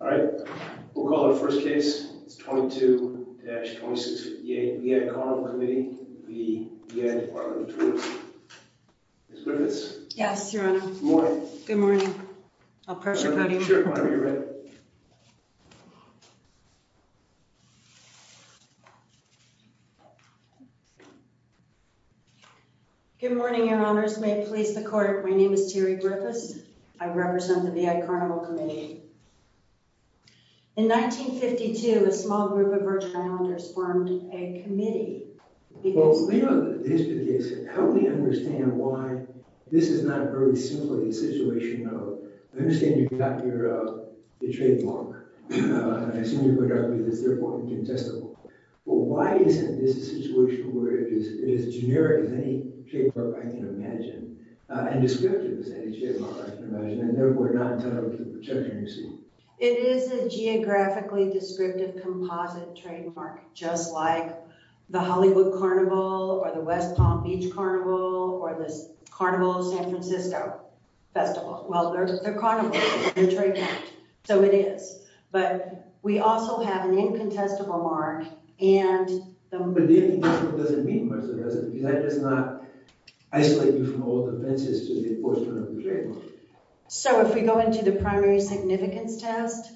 All right, we'll call the first case. It's 22-26 v. VI Carnival Committee v. VI Dept. Tourism. Ms. Griffiths? Yes, Your Honor. Good morning. Good morning. I'll press your podium. Sure, Your Honor. You're ready. Good morning, Your Honors. May it please the court, my name is Terry Griffiths. I represent the VI Carnival Committee. In 1952, a small group of Virgin Islanders formed a committee because... Well, you know the history of the case. How do we understand why this is not very simply a situation of... I understand you've got your trademark. I assume you're going to argue that it's therefore incontestable. Well, why isn't this a situation where it is as generic as any trademark I can imagine and descriptive as any trademark I can imagine and therefore not entitled to the protection you're seeking? It is a geographically descriptive composite trademark, just like the Hollywood Carnival or the West Palm Beach Carnival or the Carnival of San Francisco Festival. Well, they're carnivals. They're trademarks. So it is. But we also have an incontestable mark and... But the incontestable doesn't mean much, does it? Because that does not isolate you from all the fences to the enforcement of the trademark. So if we go into the primary significance test,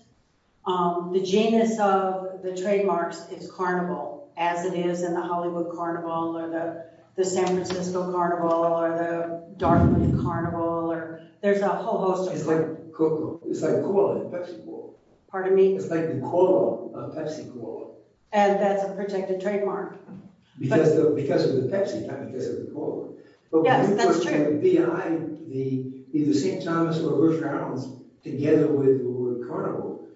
the genus of the trademarks is carnival, as it is in the Hollywood Carnival or the San Francisco Carnival or the Dartmouth Carnival. There's a whole host of them. It's like Coca-Cola. It's like Pepsi-Cola. Pardon me? It's like the cola of Pepsi-Cola. And that's a protected trademark. Because of the Pepsi kind of taste of the cola. Yes, that's true. If I could be either St. Thomas or Virgin Islands together with the Hollywood Carnival,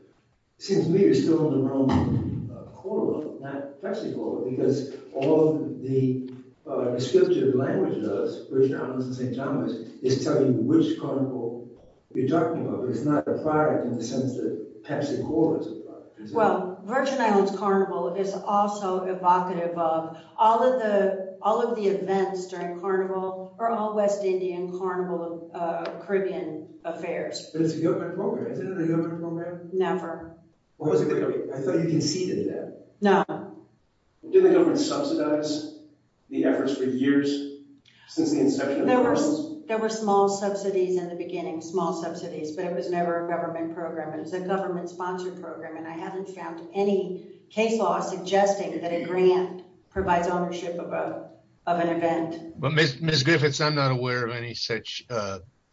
it seems to me you're still on the wrong cola, not Pepsi-Cola, because all the descriptive language does, Virgin Islands and St. Thomas, is tell you which carnival you're talking about. It's not a product in the sense that Pepsi-Cola is a product. Well, Virgin Islands Carnival is also evocative of all of the events during Carnival or all West Indian Carnival Caribbean affairs. But it's a government program. Isn't it a government program? Never. I thought you conceded that. No. Didn't the government subsidize the efforts for years since the inception of the carnival? There were small subsidies in the beginning, small subsidies, but it was never a government program. It was a government-sponsored program. And I haven't found any case law suggesting that a grant provides ownership of an event. But, Ms. Griffiths, I'm not aware of any such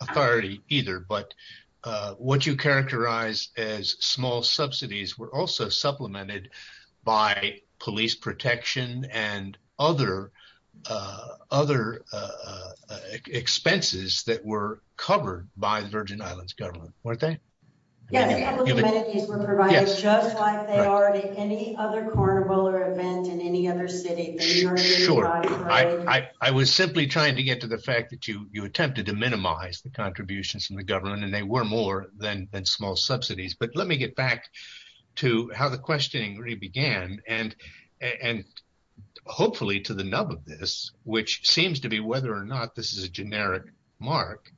authority either. But what you characterize as small subsidies were also supplemented by police protection and other expenses that were covered by the Virgin Islands government, weren't they? Yes, a couple of amenities were provided, just like they are to any other carnival or event in any other city. Sure. I was simply trying to get to the fact that you attempted to minimize the contributions from the government, and they were more than small subsidies. But let me get back to how the questioning really began and hopefully to the nub of this, which seems to be whether or not this is a generic mark.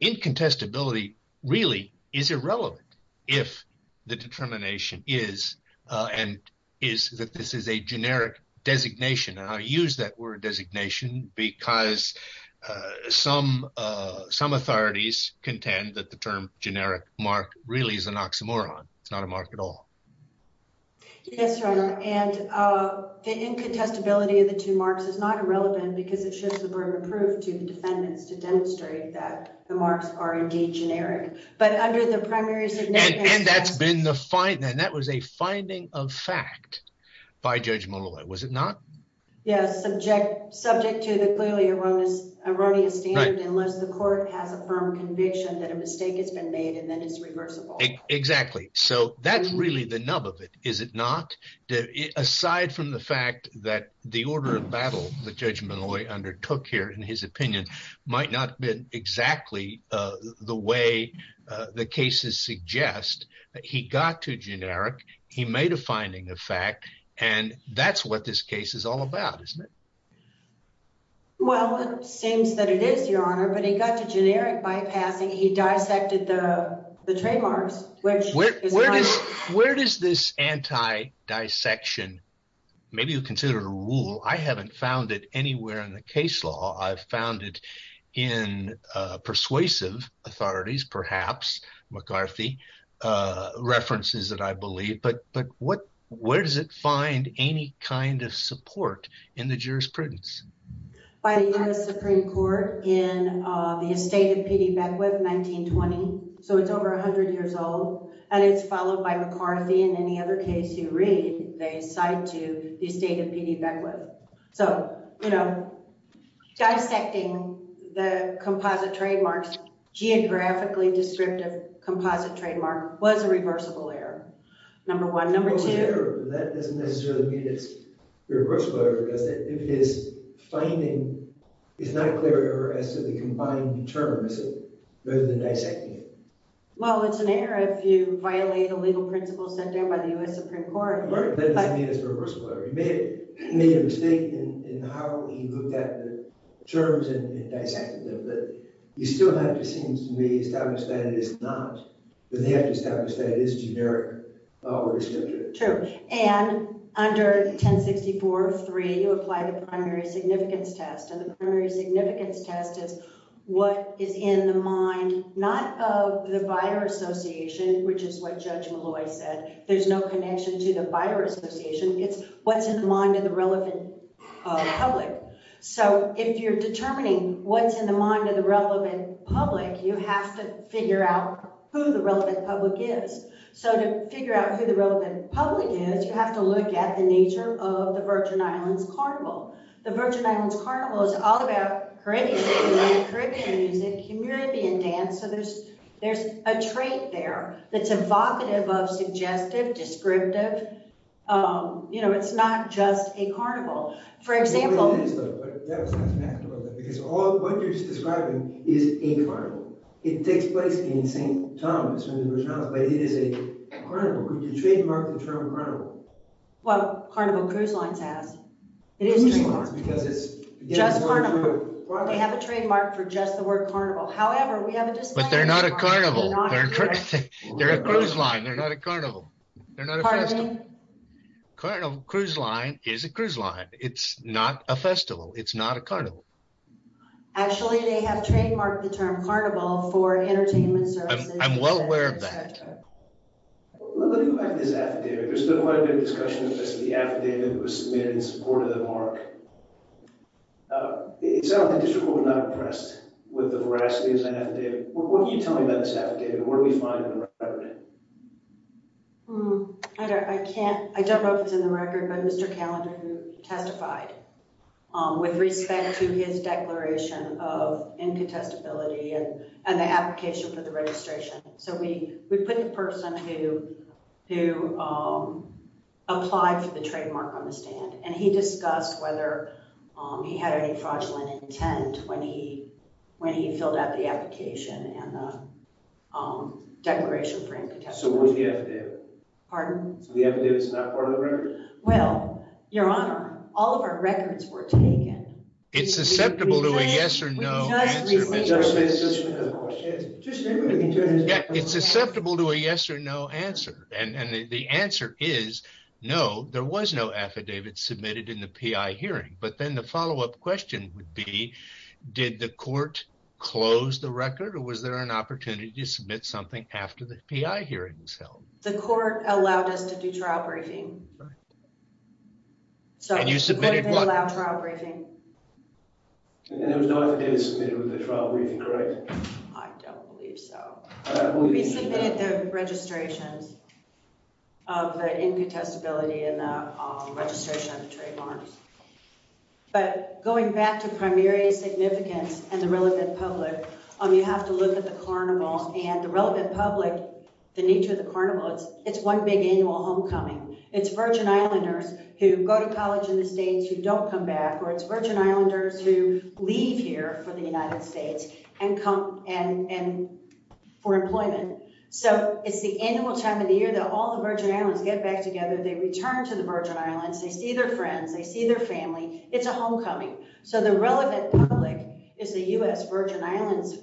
Incontestability really is irrelevant if the determination is and is that this is a generic designation. And I use that word designation because some authorities contend that the term generic mark really is an oxymoron. It's not a mark at all. Yes, Your Honor. And the incontestability of the two marks is not irrelevant because it shifts the burden of proof to the defendants to demonstrate that the marks are indeed generic. But under the primaries… And that was a finding of fact by Judge Molloy, was it not? Yes, subject to the clearly erroneous standard unless the court has a firm conviction that a mistake has been made and then it's reversible. Exactly. So that's really the nub of it, is it not? Aside from the fact that the order of battle that Judge Molloy undertook here, in his opinion, might not have been exactly the way the cases suggest, he got to generic, he made a finding of fact, and that's what this case is all about, isn't it? Well, it seems that it is, Your Honor, but he got to generic bypassing. He dissected the trademarks, which is not… Where does this anti-dissection – maybe you consider it a rule. I haven't found it anywhere in the case law. I've found it in persuasive authorities, perhaps McCarthy references that I believe, but where does it find any kind of support in the jurisprudence? By the U.S. Supreme Court in the estate of P.D. Beckwith, 1920, so it's over 100 years old, and it's followed by McCarthy and any other case you read, they cite to the estate of P.D. Beckwith. So, you know, dissecting the composite trademarks, geographically descriptive composite trademark was a reversible error, number one. Number two… It doesn't necessarily mean it's reversible error because if it is, finding is not a clear error as to the combined terms rather than dissecting it. Well, it's an error if you violate a legal principle set down by the U.S. Supreme Court. Right, but that doesn't mean it's reversible error. He made a mistake in how he looked at the terms and dissected them, but you still have to seem to me establish that it is not, that they have to establish that it is generic law or descriptive. True, and under 1064.3, you apply the primary significance test, and the primary significance test is what is in the mind, not of the buyer association, which is what Judge Malloy said, there's no connection to the buyer association, it's what's in the mind of the relevant public. So, if you're determining what's in the mind of the relevant public, you have to figure out who the relevant public is. So, to figure out who the relevant public is, you have to look at the nature of the Virgin Islands Carnival. The Virgin Islands Carnival is all about Caribbean music, Caribbean dance, so there's a trait there that's evocative of suggestive, descriptive, you know, it's not just a carnival. For example- What you're describing is a carnival. It takes place in St. Thomas in the Virgin Islands, but it is a carnival. Would you trademark the term carnival? Well, Carnival Cruise Lines has. It is trademarked. Just Carnival. They have a trademark for just the word carnival. However, we have a- But they're not a carnival. They're a cruise line, they're not a carnival. Pardon me? Carnival Cruise Line is a cruise line. It's not a festival. It's not a carnival. Actually, they have trademarked the term carnival for entertainment services. I'm well aware of that. Let me go back to this affidavit. There's been quite a bit of discussion as to the affidavit that was submitted in support of the mark. It sounds like the district court was not impressed with the veracity of that affidavit. What can you tell me about this affidavit? Where do we find it? I don't know if it's in the record, but Mr. Callender testified with respect to his declaration of incontestability and the application for the registration. So we put the person who applied for the trademark on the stand, and he discussed whether he had any fraudulent intent when he filled out the application and the declaration for incontestability. So where's the affidavit? Pardon? So the affidavit's not part of the record? Well, Your Honor, all of our records were taken. It's susceptible to a yes or no. It's susceptible to a yes or no answer, and the answer is no, there was no affidavit submitted in the PI hearing. But then the follow-up question would be, did the court close the record, or was there an opportunity to submit something after the PI hearing was held? The court allowed us to do trial briefing. And you submitted what? We allowed trial briefing. And there was no affidavit submitted with the trial briefing, correct? I don't believe so. We submitted the registrations of the incontestability and the registration of the trademark. But going back to primary significance and the relevant public, you have to look at the carnival, and the relevant public, the nature of the carnival, it's one big annual homecoming. It's Virgin Islanders who go to college in the States who don't come back, or it's Virgin Islanders who leave here for the United States for employment. So it's the annual time of the year that all the Virgin Islands get back together. They return to the Virgin Islands. They see their friends. They see their family. It's a homecoming. So the relevant public is the U.S. Virgin Islands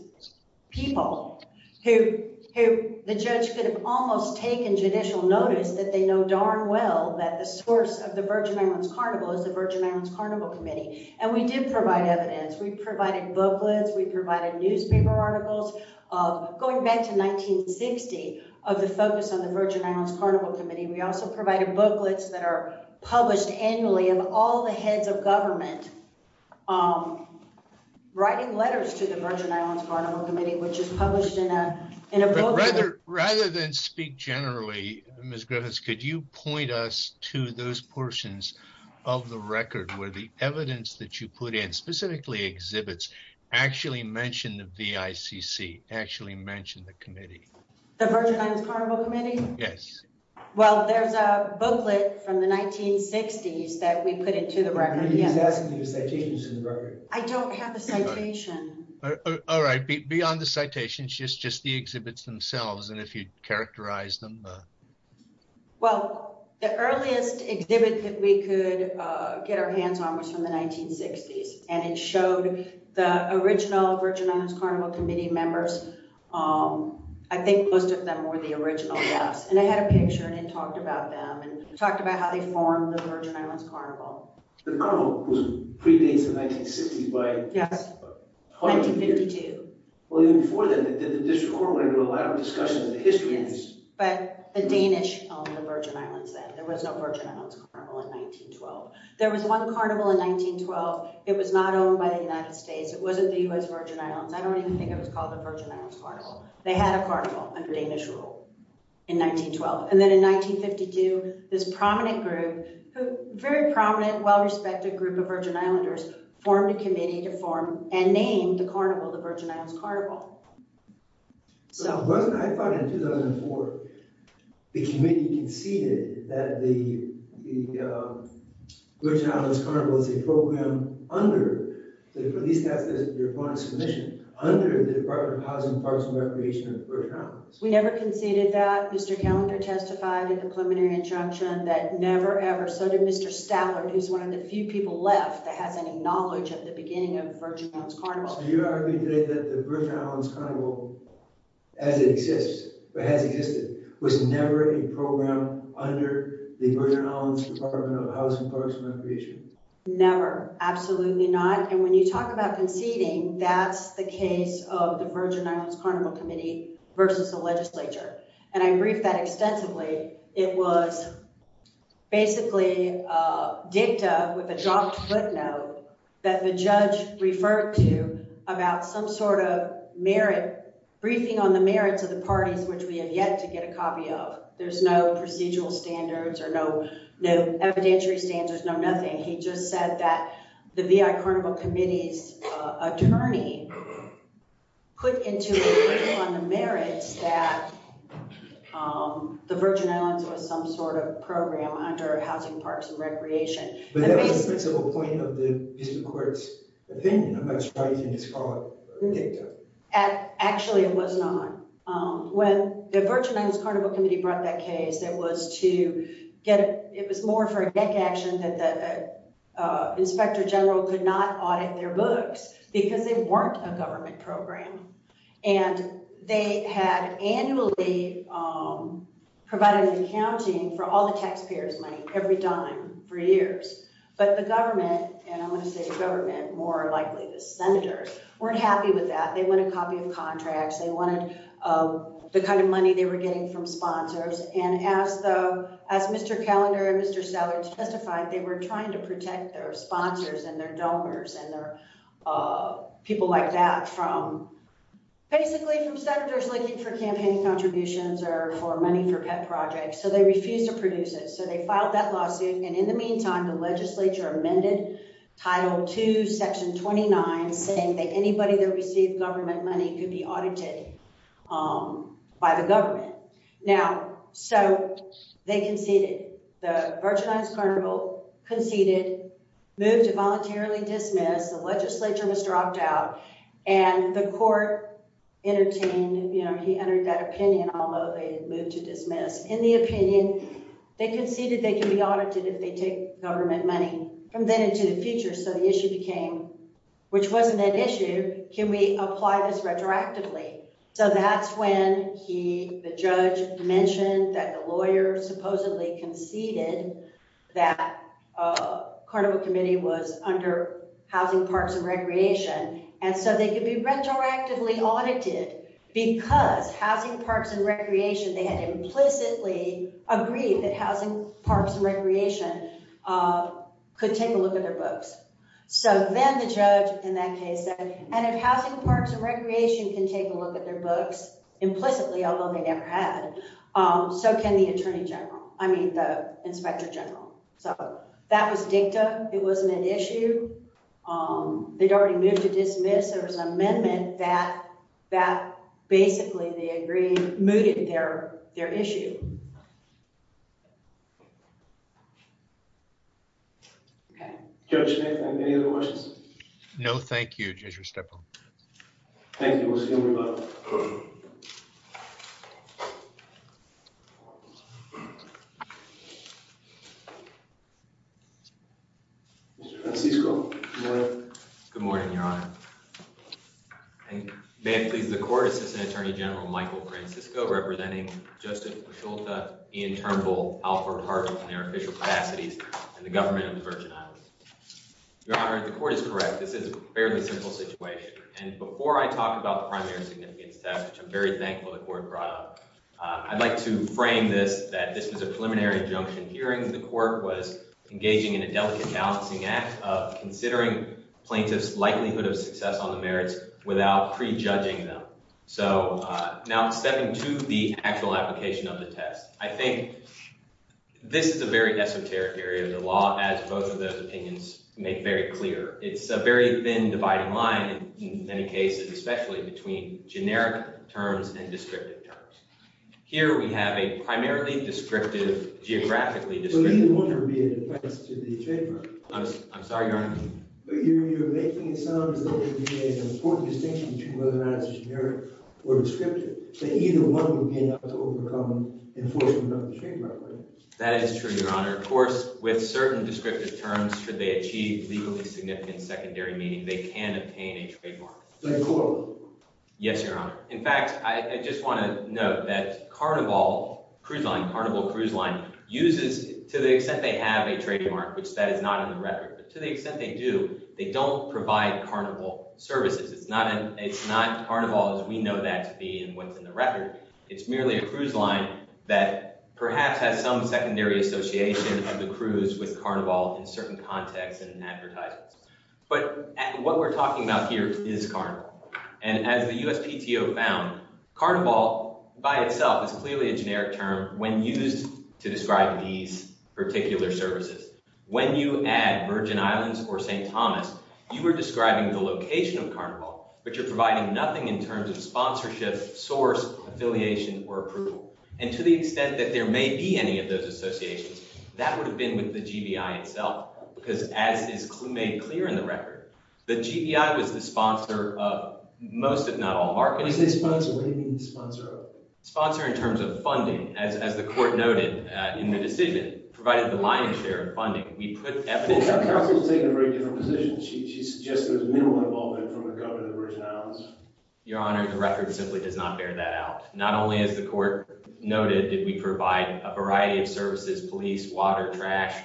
people who the judge could have almost taken judicial notice that they know darn well that the source of the Virgin Islands Carnival is the Virgin Islands Carnival Committee. And we did provide evidence. We provided booklets. We provided newspaper articles. Going back to 1960 of the focus on the Virgin Islands Carnival Committee, we also provided booklets that are published annually of all the heads of government writing letters to the Virgin Islands Carnival Committee, which is published in a book. Rather than speak generally, Ms. Griffiths, could you point us to those portions of the record where the evidence that you put in, specifically exhibits, actually mentioned the VICC, actually mentioned the committee? The Virgin Islands Carnival Committee? Yes. Well, there's a booklet from the 1960s that we put into the record. I don't have the citation. All right. Beyond the citation, it's just the exhibits themselves, and if you'd characterize them. Well, the earliest exhibit that we could get our hands on was from the 1960s, and it showed the original Virgin Islands Carnival Committee members. I think most of them were the original, yes. And I had a picture, and it talked about them and talked about how they formed the Virgin Islands Carnival. The carnival was predates the 1960s by… Yes, 1952. Well, even before then, the district court went into a lot of discussion of the history of this. Yes, but the Danish owned the Virgin Islands then. There was no Virgin Islands Carnival in 1912. There was one carnival in 1912. It was not owned by the United States. It wasn't the U.S. Virgin Islands. I don't even think it was called the Virgin Islands Carnival. They had a carnival under Danish rule in 1912. And then in 1952, this prominent group, very prominent, well-respected group of Virgin Islanders formed a committee to form and name the carnival the Virgin Islands Carnival. So, wasn't it, I thought in 2004, the committee conceded that the Virgin Islands Carnival is a program under, at least that's your point of submission, under the Department of Housing, Parks, and Recreation of the Virgin Islands. We never conceded that. Mr. Callender testified in the preliminary injunction that never, ever, so did Mr. Stallard, who's one of the few people left that has any knowledge of the beginning of the Virgin Islands Carnival. So, you're arguing today that the Virgin Islands Carnival as it exists, or has existed, was never a program under the Virgin Islands Department of Housing, Parks, and Recreation? Never. Absolutely not. And when you talk about conceding, that's the case of the Virgin Islands Carnival Committee versus the legislature. And I briefed that extensively. It was basically dicta with a dropped footnote that the judge referred to about some sort of merit, briefing on the merits of the parties which we have yet to get a copy of. There's no procedural standards or no evidentiary standards, no nothing. He just said that the V.I. Carnival Committee's attorney put into a briefing on the merits that the Virgin Islands was some sort of program under Housing, Parks, and Recreation. But that was the principal point of the District Court's opinion about striking this fallout dicta. Actually, it was not. When the Virgin Islands Carnival Committee brought that case, it was more for a deck action that the Inspector General could not audit their books because they weren't a government program. And they had annually provided an accounting for all the taxpayers' money, every dime, for years. But the government, and I want to say government more likely, the senators, weren't happy with that. They wanted a copy of contracts. They wanted the kind of money they were getting from sponsors. And as Mr. Callender and Mr. Seller testified, they were trying to protect their sponsors and their donors and their people like that from basically from senators looking for campaign contributions or for money for pet projects. So they refused to produce it. So they filed that lawsuit. And in the meantime, the legislature amended Title II, Section 29, saying that anybody that received government money could be audited by the government. Now, so they conceded. The Virgin Islands Carnival conceded, moved to voluntarily dismiss. The legislature was dropped out. And the court entertained, you know, he entered that opinion, although they moved to dismiss. In the opinion, they conceded they could be audited if they take government money from then into the future. So the issue became, which wasn't an issue, can we apply this retroactively? So that's when he, the judge, mentioned that the lawyer supposedly conceded that Carnival Committee was under Housing, Parks, and Recreation. And so they could be retroactively audited because Housing, Parks, and Recreation, they had implicitly agreed that Housing, Parks, and Recreation could take a look at their books. So then the judge in that case said, and if Housing, Parks, and Recreation can take a look at their books implicitly, although they never had, so can the Attorney General, I mean, the Inspector General. So that was dicta. It wasn't an issue. They'd already moved to dismiss. There was an amendment that basically, they agreed, mooted their issue. Okay. Judge Smith, any other questions? No, thank you, Judge Restepo. Thank you. We'll see everybody. Mr. Francisco, good morning. Good morning, Your Honor. May it please the Court, Assistant Attorney General Michael Francisco, representing Justice Pacholta, Ian Turnbull, Alfred Hartman, and their official capacities, and the government of the Virgin Islands. Your Honor, the Court is correct. This is a fairly simple situation. And before I talk about the primary significance test, which I'm very thankful the Court brought up, I'd like to frame this that this was a preliminary injunction hearing. The Court was engaging in a delicate balancing act of considering plaintiffs' likelihood of success on the merits without prejudging them. So now stepping to the actual application of the test, I think this is a very esoteric area of the law, as both of those opinions make very clear. It's a very thin dividing line in many cases, especially between generic terms and descriptive terms. Here we have a primarily descriptive, geographically descriptive… But either one would be a defense to the trademark. I'm sorry, Your Honor? You're making it sound as though there would be an important distinction between whether or not it's generic or descriptive, that either one would be enough to overcome enforcement of the trademark. That is true, Your Honor. Of course, with certain descriptive terms, should they achieve legally significant secondary meaning, they can obtain a trademark. Is that important? Yes, Your Honor. In fact, I just want to note that Carnival Cruise Line uses, to the extent they have a trademark, which that is not in the record, but to the extent they do, they don't provide Carnival services. It's not Carnival as we know that to be and what's in the record. It's merely a cruise line that perhaps has some secondary association of the cruise with Carnival in certain contexts and advertisements. But what we're talking about here is Carnival. And as the USPTO found, Carnival by itself is clearly a generic term when used to describe these particular services. When you add Virgin Islands or St. Thomas, you are describing the location of Carnival, but you're providing nothing in terms of sponsorship, source, affiliation, or approval. And to the extent that there may be any of those associations, that would have been with the GBI itself because, as is made clear in the record, the GBI was the sponsor of most, if not all, marketing. When you say sponsor, what do you mean the sponsor of? Sponsor in terms of funding, as the court noted in the decision, provided the lion's share of funding. We put evidence… The counsel has taken a very different position. She suggests there's minimal involvement from the government of Virgin Islands. Your Honor, the record simply does not bear that out. Not only has the court noted that we provide a variety of services, police, water, trash,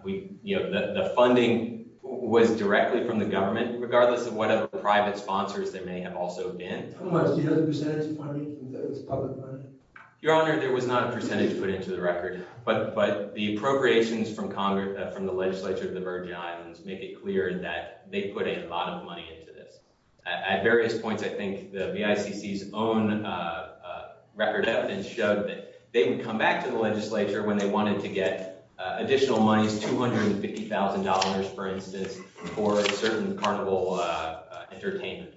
the funding was directly from the government, regardless of what other private sponsors there may have also been. Your Honor, there was not a percentage put into the record, but the appropriations from the legislature of the Virgin Islands make it clear that they put a lot of money into this. At various points, I think the BICC's own record evidence showed that they would come back to the legislature when they wanted to get additional monies, $250,000 for instance, for a certain Carnival entertainment.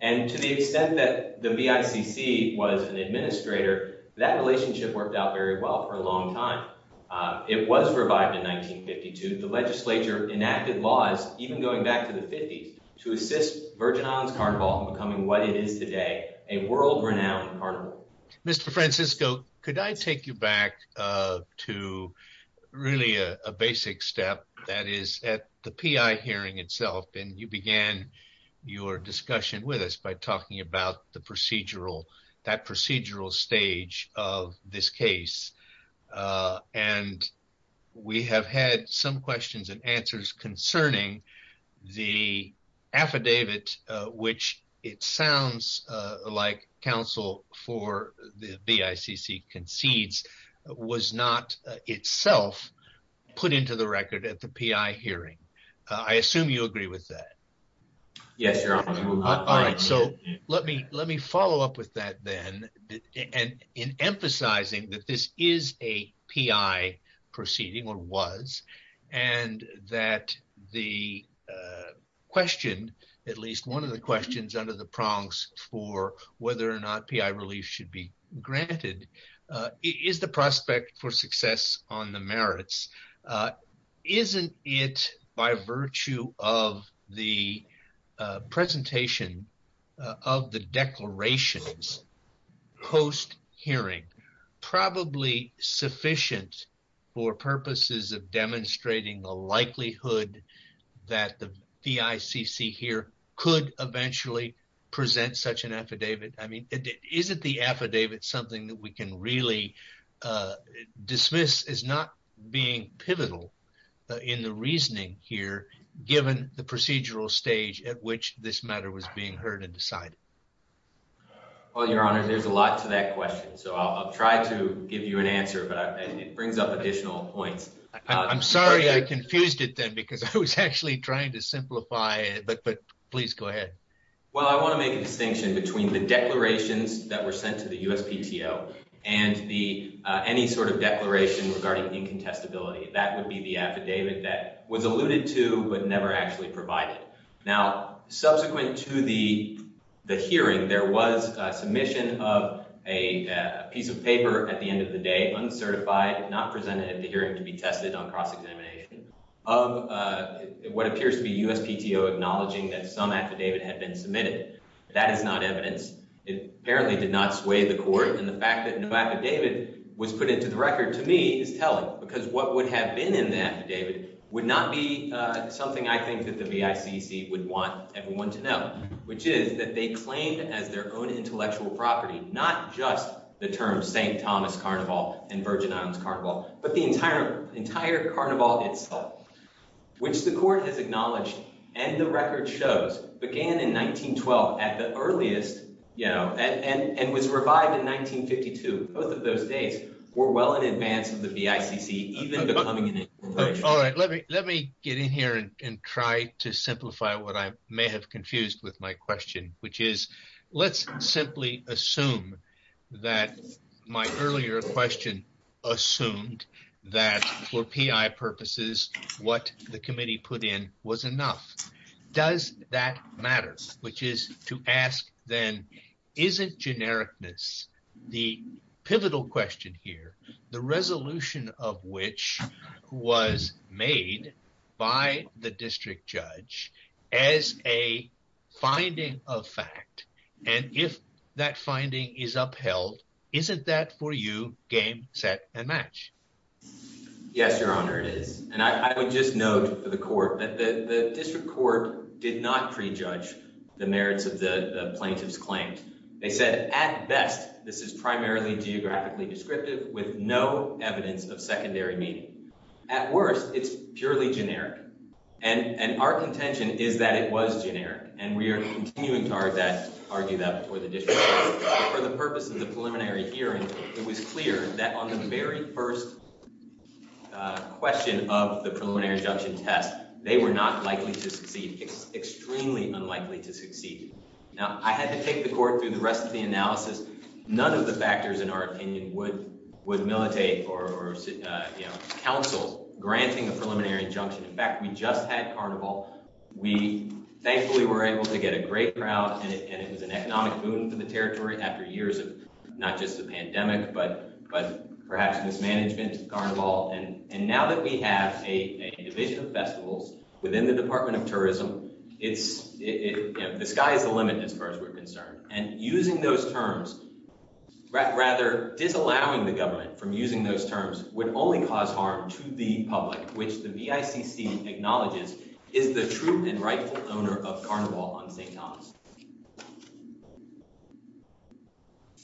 And to the extent that the BICC was an administrator, that relationship worked out very well for a long time. It was revived in 1952. The legislature enacted laws, even going back to the 50s, to assist Virgin Islands Carnival in becoming what it is today, a world-renowned Carnival. Mr. Francisco, could I take you back to really a basic step that is at the PI hearing itself, and you began your discussion with us by talking about the procedural, that procedural stage of this case. And we have had some questions and answers concerning the affidavit, which it sounds like counsel for the BICC concedes was not itself put into the record at the PI hearing. I assume you agree with that. Yes, Your Honor. All right, so let me follow up with that then, in emphasizing that this is a PI proceeding, or was, and that the question, at least one of the questions under the prongs for whether or not PI relief should be granted, is the prospect for success on the merits. Isn't it, by virtue of the presentation of the declarations post-hearing, probably sufficient for purposes of demonstrating the likelihood that the BICC here could eventually present such an affidavit? I mean, isn't the affidavit something that we can really dismiss as not being pivotal in the reasoning here, given the procedural stage at which this matter was being heard and decided? Well, Your Honor, there's a lot to that question, so I'll try to give you an answer, but it brings up additional points. I'm sorry I confused it then, because I was actually trying to simplify it, but please go ahead. Well, I want to make a distinction between the declarations that were sent to the USPTO and any sort of declaration regarding incontestability. That would be the affidavit that was alluded to but never actually provided. Now, subsequent to the hearing, there was a submission of a piece of paper at the end of the day, uncertified, not presented at the hearing to be tested on cross-examination, of what appears to be USPTO acknowledging that some affidavit had been submitted. That is not evidence. It apparently did not sway the court, and the fact that no affidavit was put into the record, to me, is telling, because what would have been in the affidavit would not be something I think that the VICC would want everyone to know, which is that they claimed as their own intellectual property, not just the term St. Thomas Carnival and Virgin Islands Carnival, but the entire entire carnival itself, which the court has acknowledged and the record shows began in 1912 at the earliest, you know, and was revived in 1952. Both of those days were well in advance of the VICC even becoming an incorporation. All right, let me get in here and try to simplify what I may have confused with my question, which is, let's simply assume that my earlier question assumed that for PI purposes, what the committee put in was enough. Does that matter, which is to ask then, isn't genericness the pivotal question here, the resolution of which was made by the district judge as a finding of fact, and if that finding is upheld, isn't that for you game, set, and match? Yes, Your Honor, it is, and I would just note for the court that the district court did not prejudge the merits of the plaintiff's claims. They said at best, this is primarily geographically descriptive with no evidence of secondary meaning. At worst, it's purely generic, and our contention is that it was generic, and we are continuing to argue that before the district court. For the purpose of the preliminary hearing, it was clear that on the very first question of the preliminary injunction test, they were not likely to succeed, extremely unlikely to succeed. Now, I had to take the court through the rest of the analysis. None of the factors, in our opinion, would militate or counsel granting a preliminary injunction. In fact, we just had carnival. We thankfully were able to get a great crowd, and it was an economic boon for the territory after years of not just the pandemic, but perhaps mismanagement, carnival. And now that we have a division of festivals within the Department of Tourism, the sky is the limit as far as we're concerned. And using those terms, rather disallowing the government from using those terms, would only cause harm to the public, which the BICC acknowledges is the true and rightful owner of Carnival on St. Thomas.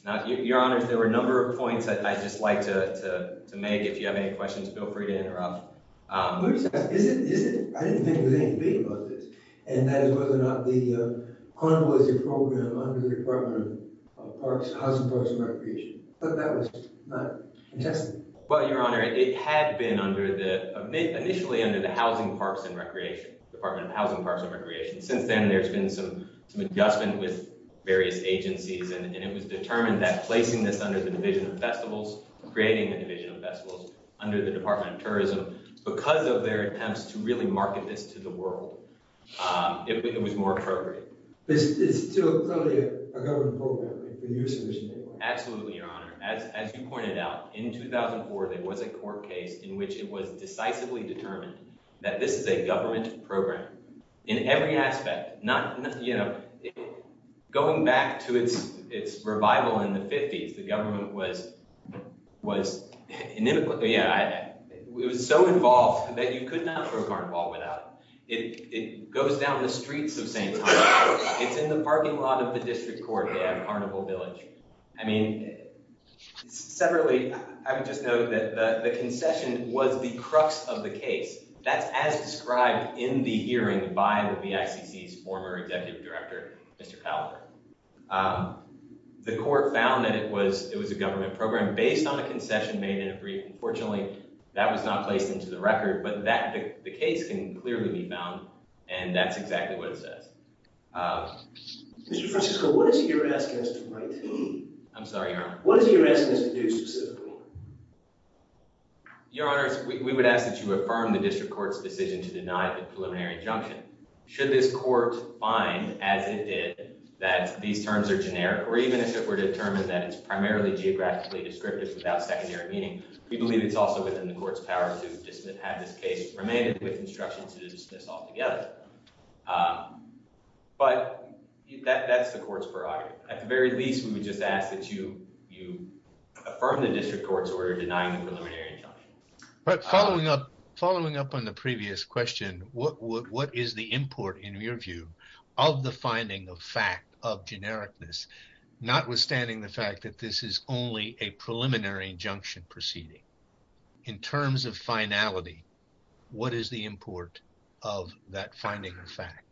Now, Your Honor, there were a number of points that I'd just like to make. If you have any questions, feel free to interrupt. I didn't think there was any debate about this, and that is whether or not the Carnival was your program under the Department of Parks, Housing, Parks, and Recreation. But that was not tested. Well, Your Honor, it had been initially under the Department of Housing, Parks, and Recreation. Since then, there's been some adjustment with various agencies, and it was determined that placing this under the Division of Festivals, creating the Division of Festivals under the Department of Tourism, because of their attempts to really market this to the world, it was more appropriate. But it's still a government program? Absolutely, Your Honor. As you pointed out, in 2004, there was a court case in which it was decisively determined that this is a government program. In every aspect. Going back to its revival in the 50s, the government was so involved that you could not throw a carnival without it. It goes down the streets of St. Thomas. It's in the parking lot of the District Court at Carnival Village. I mean, separately, I would just note that the concession was the crux of the case. That's as described in the hearing by the BICC's former Executive Director, Mr. Callagher. The court found that it was a government program based on a concession made in a brief. Unfortunately, that was not placed into the record, but the case can clearly be found, and that's exactly what it says. Mr. Francisco, what is your asking us to do? I'm sorry, Your Honor. What is your asking us to do specifically? Your Honor, we would ask that you affirm the District Court's decision to deny the preliminary injunction. Should this court find, as it did, that these terms are generic, or even if it were determined that it's primarily geographically descriptive without secondary meaning, we believe it's also within the court's power to dismiss, have this case remanded with instructions to dismiss altogether. But that's the court's prerogative. At the very least, we would just ask that you affirm the District Court's order denying the preliminary injunction. Following up on the previous question, what is the import, in your view, of the finding of fact, of genericness, notwithstanding the fact that this is only a preliminary injunction proceeding? In terms of finality, what is the import of that finding of fact?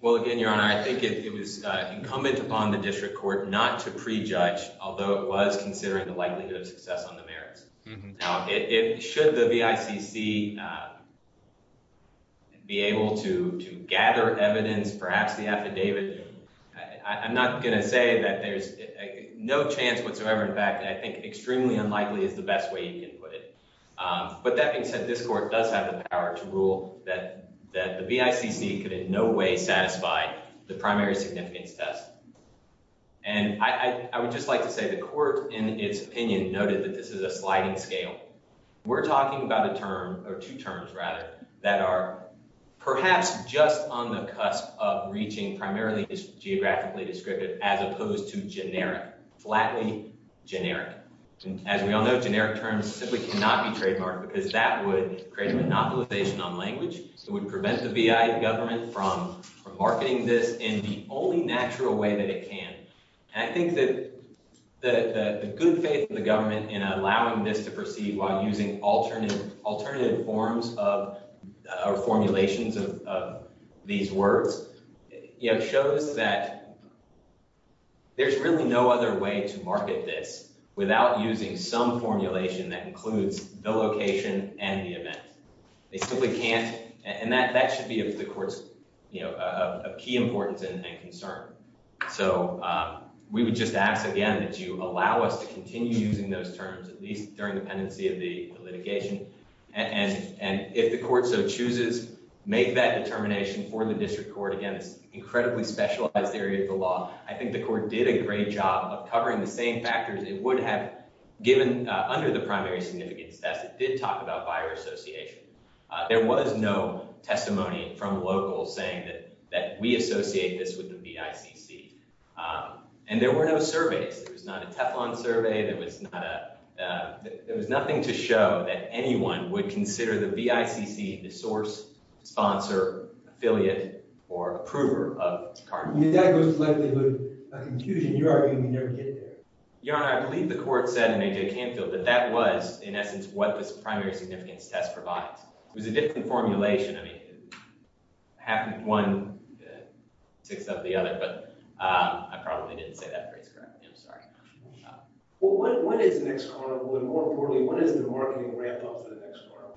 Well, again, Your Honor, I think it was incumbent upon the District Court not to prejudge, although it was considering the likelihood of success on the merits. Now, should the VICC be able to gather evidence, perhaps the affidavit, I'm not going to say that there's no chance whatsoever. In fact, I think extremely unlikely is the best way you can put it. But that being said, this court does have the power to rule that the VICC could in no way satisfy the primary significance test. And I would just like to say the court, in its opinion, noted that this is a sliding scale. We're talking about a term or two terms, rather, that are perhaps just on the cusp of reaching primarily geographically descriptive, as opposed to generic, flatly generic. And as we all know, generic terms simply cannot be trademarked because that would create a monopolization on language. It would prevent the VI government from marketing this in the only natural way that it can. And I think that the good faith of the government in allowing this to proceed while using alternative forms or formulations of these words, shows that there's really no other way to market this without using some formulation that includes the location and the event. They simply can't, and that should be of the court's key importance and concern. So we would just ask, again, that you allow us to continue using those terms, at least during the pendency of the litigation. And if the court so chooses, make that determination for the district court. Again, it's an incredibly specialized area of the law. I think the court did a great job of covering the same factors it would have given under the primary significance test. It did talk about buyer association. There was no testimony from locals saying that we associate this with the VICC. And there were no surveys. There was not a Teflon survey. There was nothing to show that anyone would consider the VICC the source, sponsor, affiliate, or approver of the card. That goes slightly to a conclusion. You're arguing we never get there. Your Honor, I believe the court said in A.J. Canfield that that was, in essence, what this primary significance test provides. It was a different formulation. I mean, half of one ticks up the other, but I probably didn't say that phrase correctly. Well, what is the next carnival? And more importantly, what is the marketing ramp-up for the next carnival?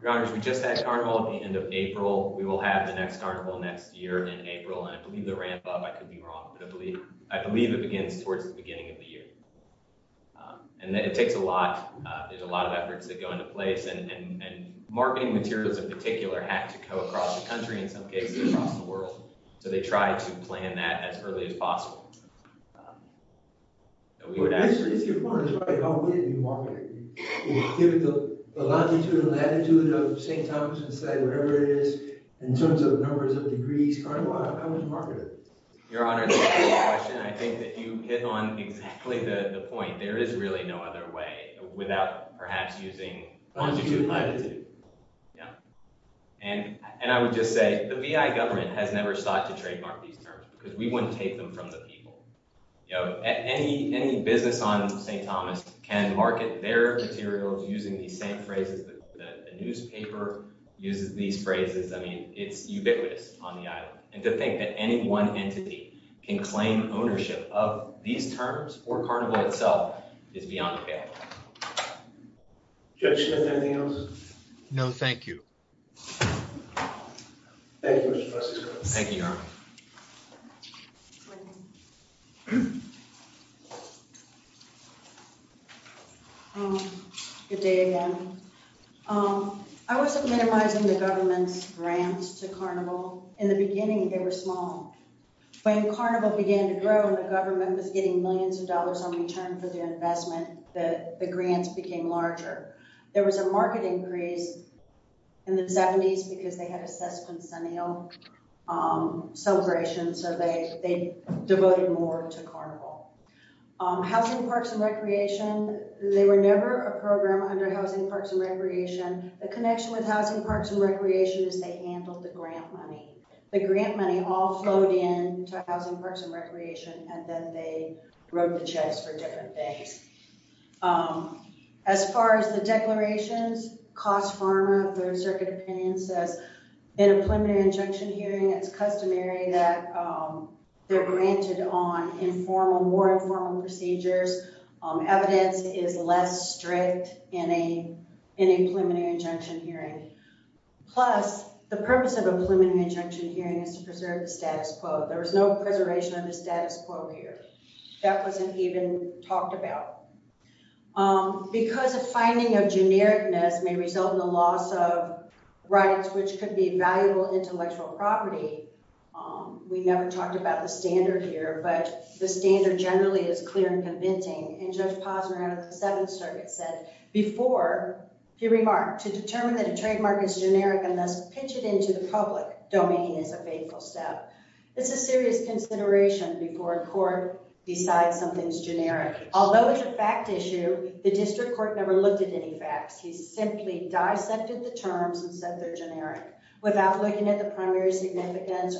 Your Honor, we just had a carnival at the end of April. We will have the next carnival next year in April, and I believe the ramp-up, I could be wrong, but I believe it begins towards the beginning of the year. And it takes a lot. There's a lot of efforts that go into place, and marketing materials in particular have to go across the country, in some cases across the world. So they try to plan that as early as possible. If your point is right, how will you market it? Give it the longitude and latitude of St. Thomas and say whatever it is in terms of numbers of degrees, carnival, how do you market it? Your Honor, that's a great question. I think that you hit on exactly the point. There is really no other way without perhaps using longitude and latitude. And I would just say the V.I. government has never sought to trademark these terms because we wouldn't take them from the people. Any business on St. Thomas can market their materials using these same phrases. The newspaper uses these phrases. I mean, it's ubiquitous on the island. And to think that any one entity can claim ownership of these terms or carnival itself is beyond a fail. Judge Smith, anything else? No, thank you. Thank you, Mr. Fusco. Thank you, Your Honor. Good day again. I wasn't minimizing the government's brands to carnival. In the beginning, they were small. When carnival began to grow and the government was getting millions of dollars in return for their investment, the grants became larger. There was a market increase in the 70s because they had a sesquicentennial celebration, so they devoted more to carnival. Housing, Parks, and Recreation, they were never a program under Housing, Parks, and Recreation. The connection with Housing, Parks, and Recreation is they handled the grant money. The grant money all flowed in to Housing, Parks, and Recreation, and then they wrote the checks for different things. As far as the declarations, COST Pharma, Third Circuit Opinion, says in a preliminary injunction hearing, it's customary that they're granted on more informal procedures. Evidence is less strict in a preliminary injunction hearing. Plus, the purpose of a preliminary injunction hearing is to preserve the status quo. There was no preservation of the status quo here. That wasn't even talked about. Because a finding of genericness may result in the loss of rights which could be valuable intellectual property, we never talked about the standard here, but the standard generally is clear and convincing. Judge Posner of the Seventh Circuit said before he remarked, to determine that a trademark is generic unless pitched into the public domain is a fateful step. It's a serious consideration before a court decides something's generic. Although it's a fact issue, the district court never looked at any facts. He simply dissected the terms and said they're generic without looking at the primary significance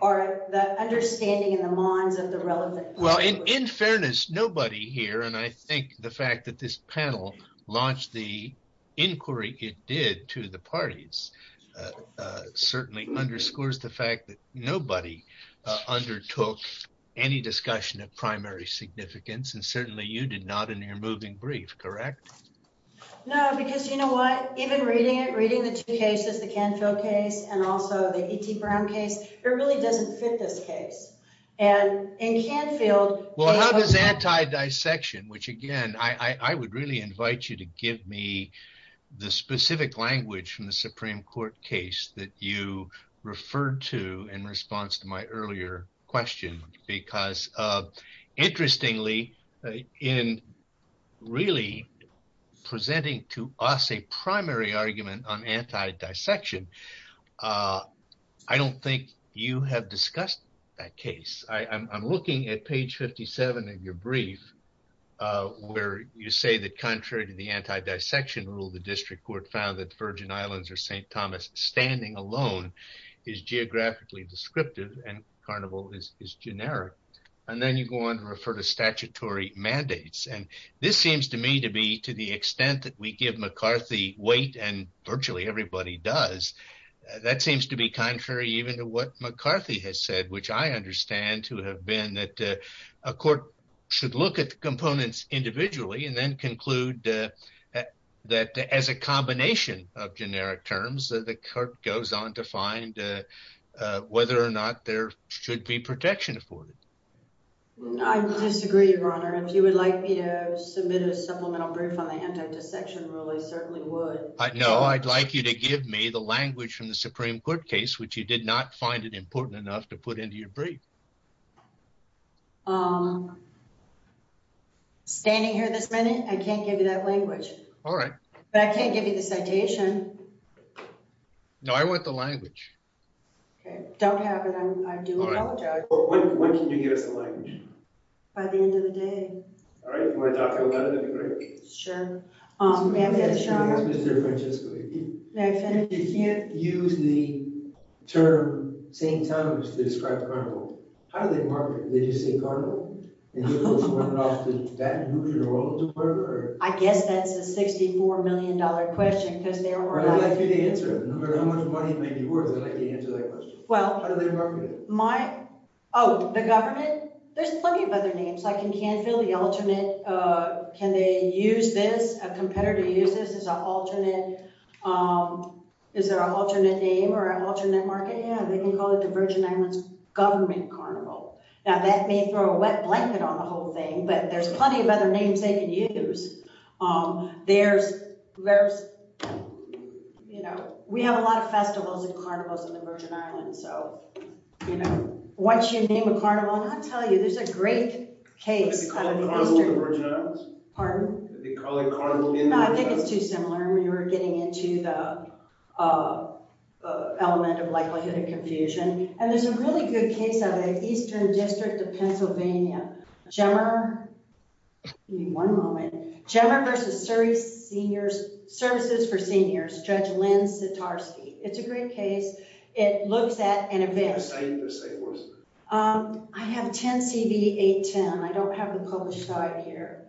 or the understanding in the minds of the relevant public. Well, in fairness, nobody here, and I think the fact that this panel launched the inquiry it did to the parties certainly underscores the fact that nobody undertook any discussion of primary significance. And certainly you did not in your moving brief, correct? No, because you know what? Even reading it, reading the two cases, the Canfield case and also the E.T. Brown case, it really doesn't fit this case. Well, how does anti-dissection, which again, I would really invite you to give me the specific language from the Supreme Court case that you referred to in response to my earlier question, because interestingly, in really presenting to us a primary argument on anti-dissection, I don't think you have discussed that case. I'm looking at page 57 of your brief where you say that contrary to the anti-dissection rule, the district court found that Virgin Islands or St. Thomas standing alone is geographically descriptive and Carnival is generic. And then you go on to refer to statutory mandates. And this seems to me to be to the extent that we give McCarthy weight and virtually everybody does. That seems to be contrary even to what McCarthy has said, which I understand to have been that a court should look at the components individually and then conclude that as a combination of generic terms, the court goes on to find whether or not there should be protection afforded. I disagree, Your Honor. If you would like me to submit a supplemental brief on the anti-dissection rule, I certainly would. No, I'd like you to give me the language from the Supreme Court case, which you did not find it important enough to put into your brief. Standing here this minute, I can't give you that language. All right. But I can't give you the citation. No, I want the language. Don't have it. I do apologize. When can you give us the language? By the end of the day. All right. If you want to talk about it, that'd be great. Sure. May I finish, Your Honor? Yes, Mr. Francesco, if you can. May I finish? If you can't use the term St. Thomas to describe Carnival, how do they market it? They just say Carnival? And you're supposed to run it off to Baton Rouge or New Orleans or wherever? I guess that's a $64 million question because there were a lot of people. I'd like you to answer it. No matter how much money it might be worth, I'd like you to answer that question. How do they market it? Oh, the government? There's plenty of other names. Like in Canfield, the alternate – can they use this, a competitor use this as an alternate – is there an alternate name or an alternate market? Yeah, they can call it the Virgin Islands Government Carnival. Now, that may throw a wet blanket on the whole thing, but there's plenty of other names they can use. There's – we have a lot of festivals and carnivals in the Virgin Islands, so once you It's a great case – Do they call it Carnival in the Virgin Islands? Pardon? Do they call it Carnival in the Virgin Islands? No, I think it's too similar. We were getting into the element of likelihood of confusion. And there's a really good case out of the Eastern District of Pennsylvania, GEMR – give me one moment – GEMR versus Surrey Seniors – Services for Seniors, Judge Lynn Sitarsky. It's a great case. It looks at an event – What does it say? What does it say? I have 10CV810. I don't have the published guide here.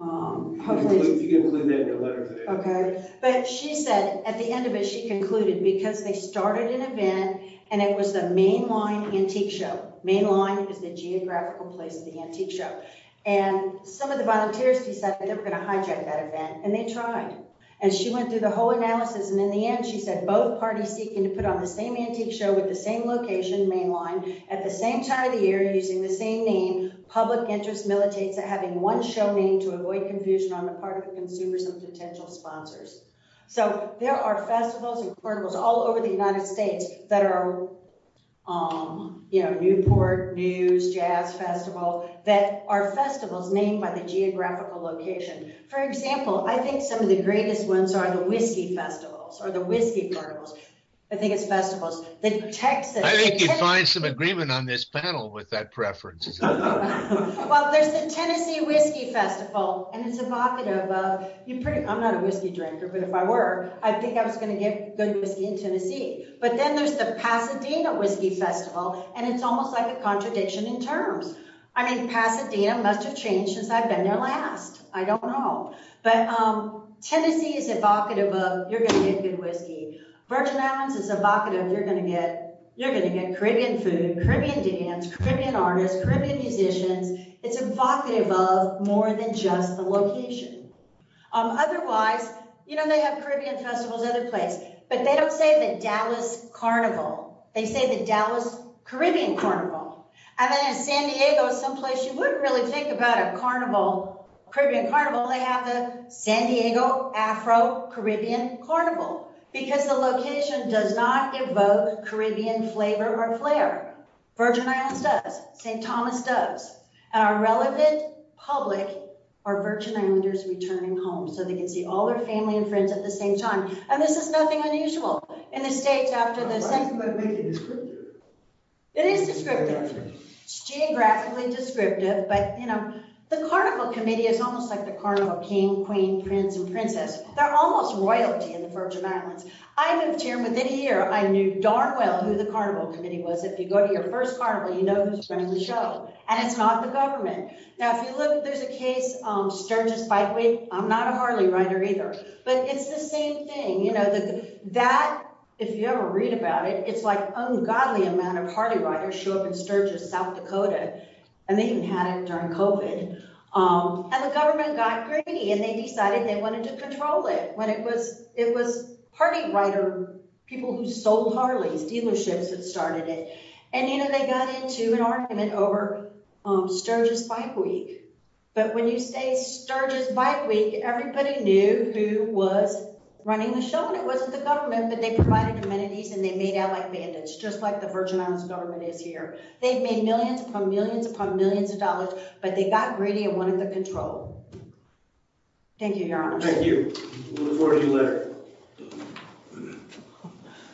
Hopefully – You can include that in your letter today. Okay. But she said at the end of it she concluded because they started an event and it was the Main Line Antique Show – Main Line is the geographical place of the Antique Show – and some of the volunteers decided they were going to hijack that event, and they tried. And she went through the whole analysis, and in the end she said both parties seeking to put on the same Antique Show with the same location, Main Line, at the same time of the year, using the same name, public interest militates at having one show name to avoid confusion on the part of the consumers and potential sponsors. So, there are festivals and carnivals all over the United States that are, you know, Newport, News, Jazz Festival, that are festivals named by the geographical location. For example, I think some of the greatest ones are the whiskey festivals or the whiskey carnivals. I think it's festivals. The Texas – I think you'd find some agreement on this panel with that preference. Well, there's the Tennessee Whiskey Festival, and it's evocative of – I'm not a whiskey drinker, but if I were, I think I was going to get good whiskey in Tennessee. But then there's the Pasadena Whiskey Festival, and it's almost like a contradiction in terms. I mean, Pasadena must have changed since I've been there last. I don't know. But Tennessee is evocative of you're going to get good whiskey. Virgin Islands is evocative of you're going to get Caribbean food, Caribbean dance, Caribbean artists, Caribbean musicians. It's evocative of more than just the location. Otherwise, you know, they have Caribbean festivals other places, but they don't say the Dallas Carnival. They say the Dallas Caribbean Carnival. And then in San Diego, someplace you wouldn't really think about a Caribbean carnival, they have the San Diego Afro-Caribbean Carnival, because the location does not evoke Caribbean flavor or flair. Virgin Islands does. St. Thomas does. And our relevant public are Virgin Islanders returning home, so they can see all their family and friends at the same time. And this is nothing unusual. In the States, after the – But why do you think they make it descriptive? It is descriptive. It's geographically descriptive, but, you know, the Carnival Committee is almost like the Carnival King, Queen, Prince, and Princess. They're almost royalty in the Virgin Islands. I moved here, and within a year, I knew darn well who the Carnival Committee was. If you go to your first carnival, you know who's running the show. And it's not the government. Now, if you look, there's a case, Sturgis Bikeway. I'm not a Harley rider either. But it's the same thing, you know. That, if you ever read about it, it's like ungodly amount of Harley riders show up in Sturgis, South Dakota. And they even had it during COVID. And the government got greedy, and they decided they wanted to control it. When it was – it was Harley rider people who sold Harleys, dealerships that started it. And, you know, they got into an argument over Sturgis Bike Week. But when you say Sturgis Bike Week, everybody knew who was running the show, and it wasn't the government. But they provided amenities, and they made out like bandits, just like the Virgin Islands government is here. They've made millions upon millions upon millions of dollars, but they got greedy and wanted the control. Thank you, Your Honor. Thank you. We'll report to you later.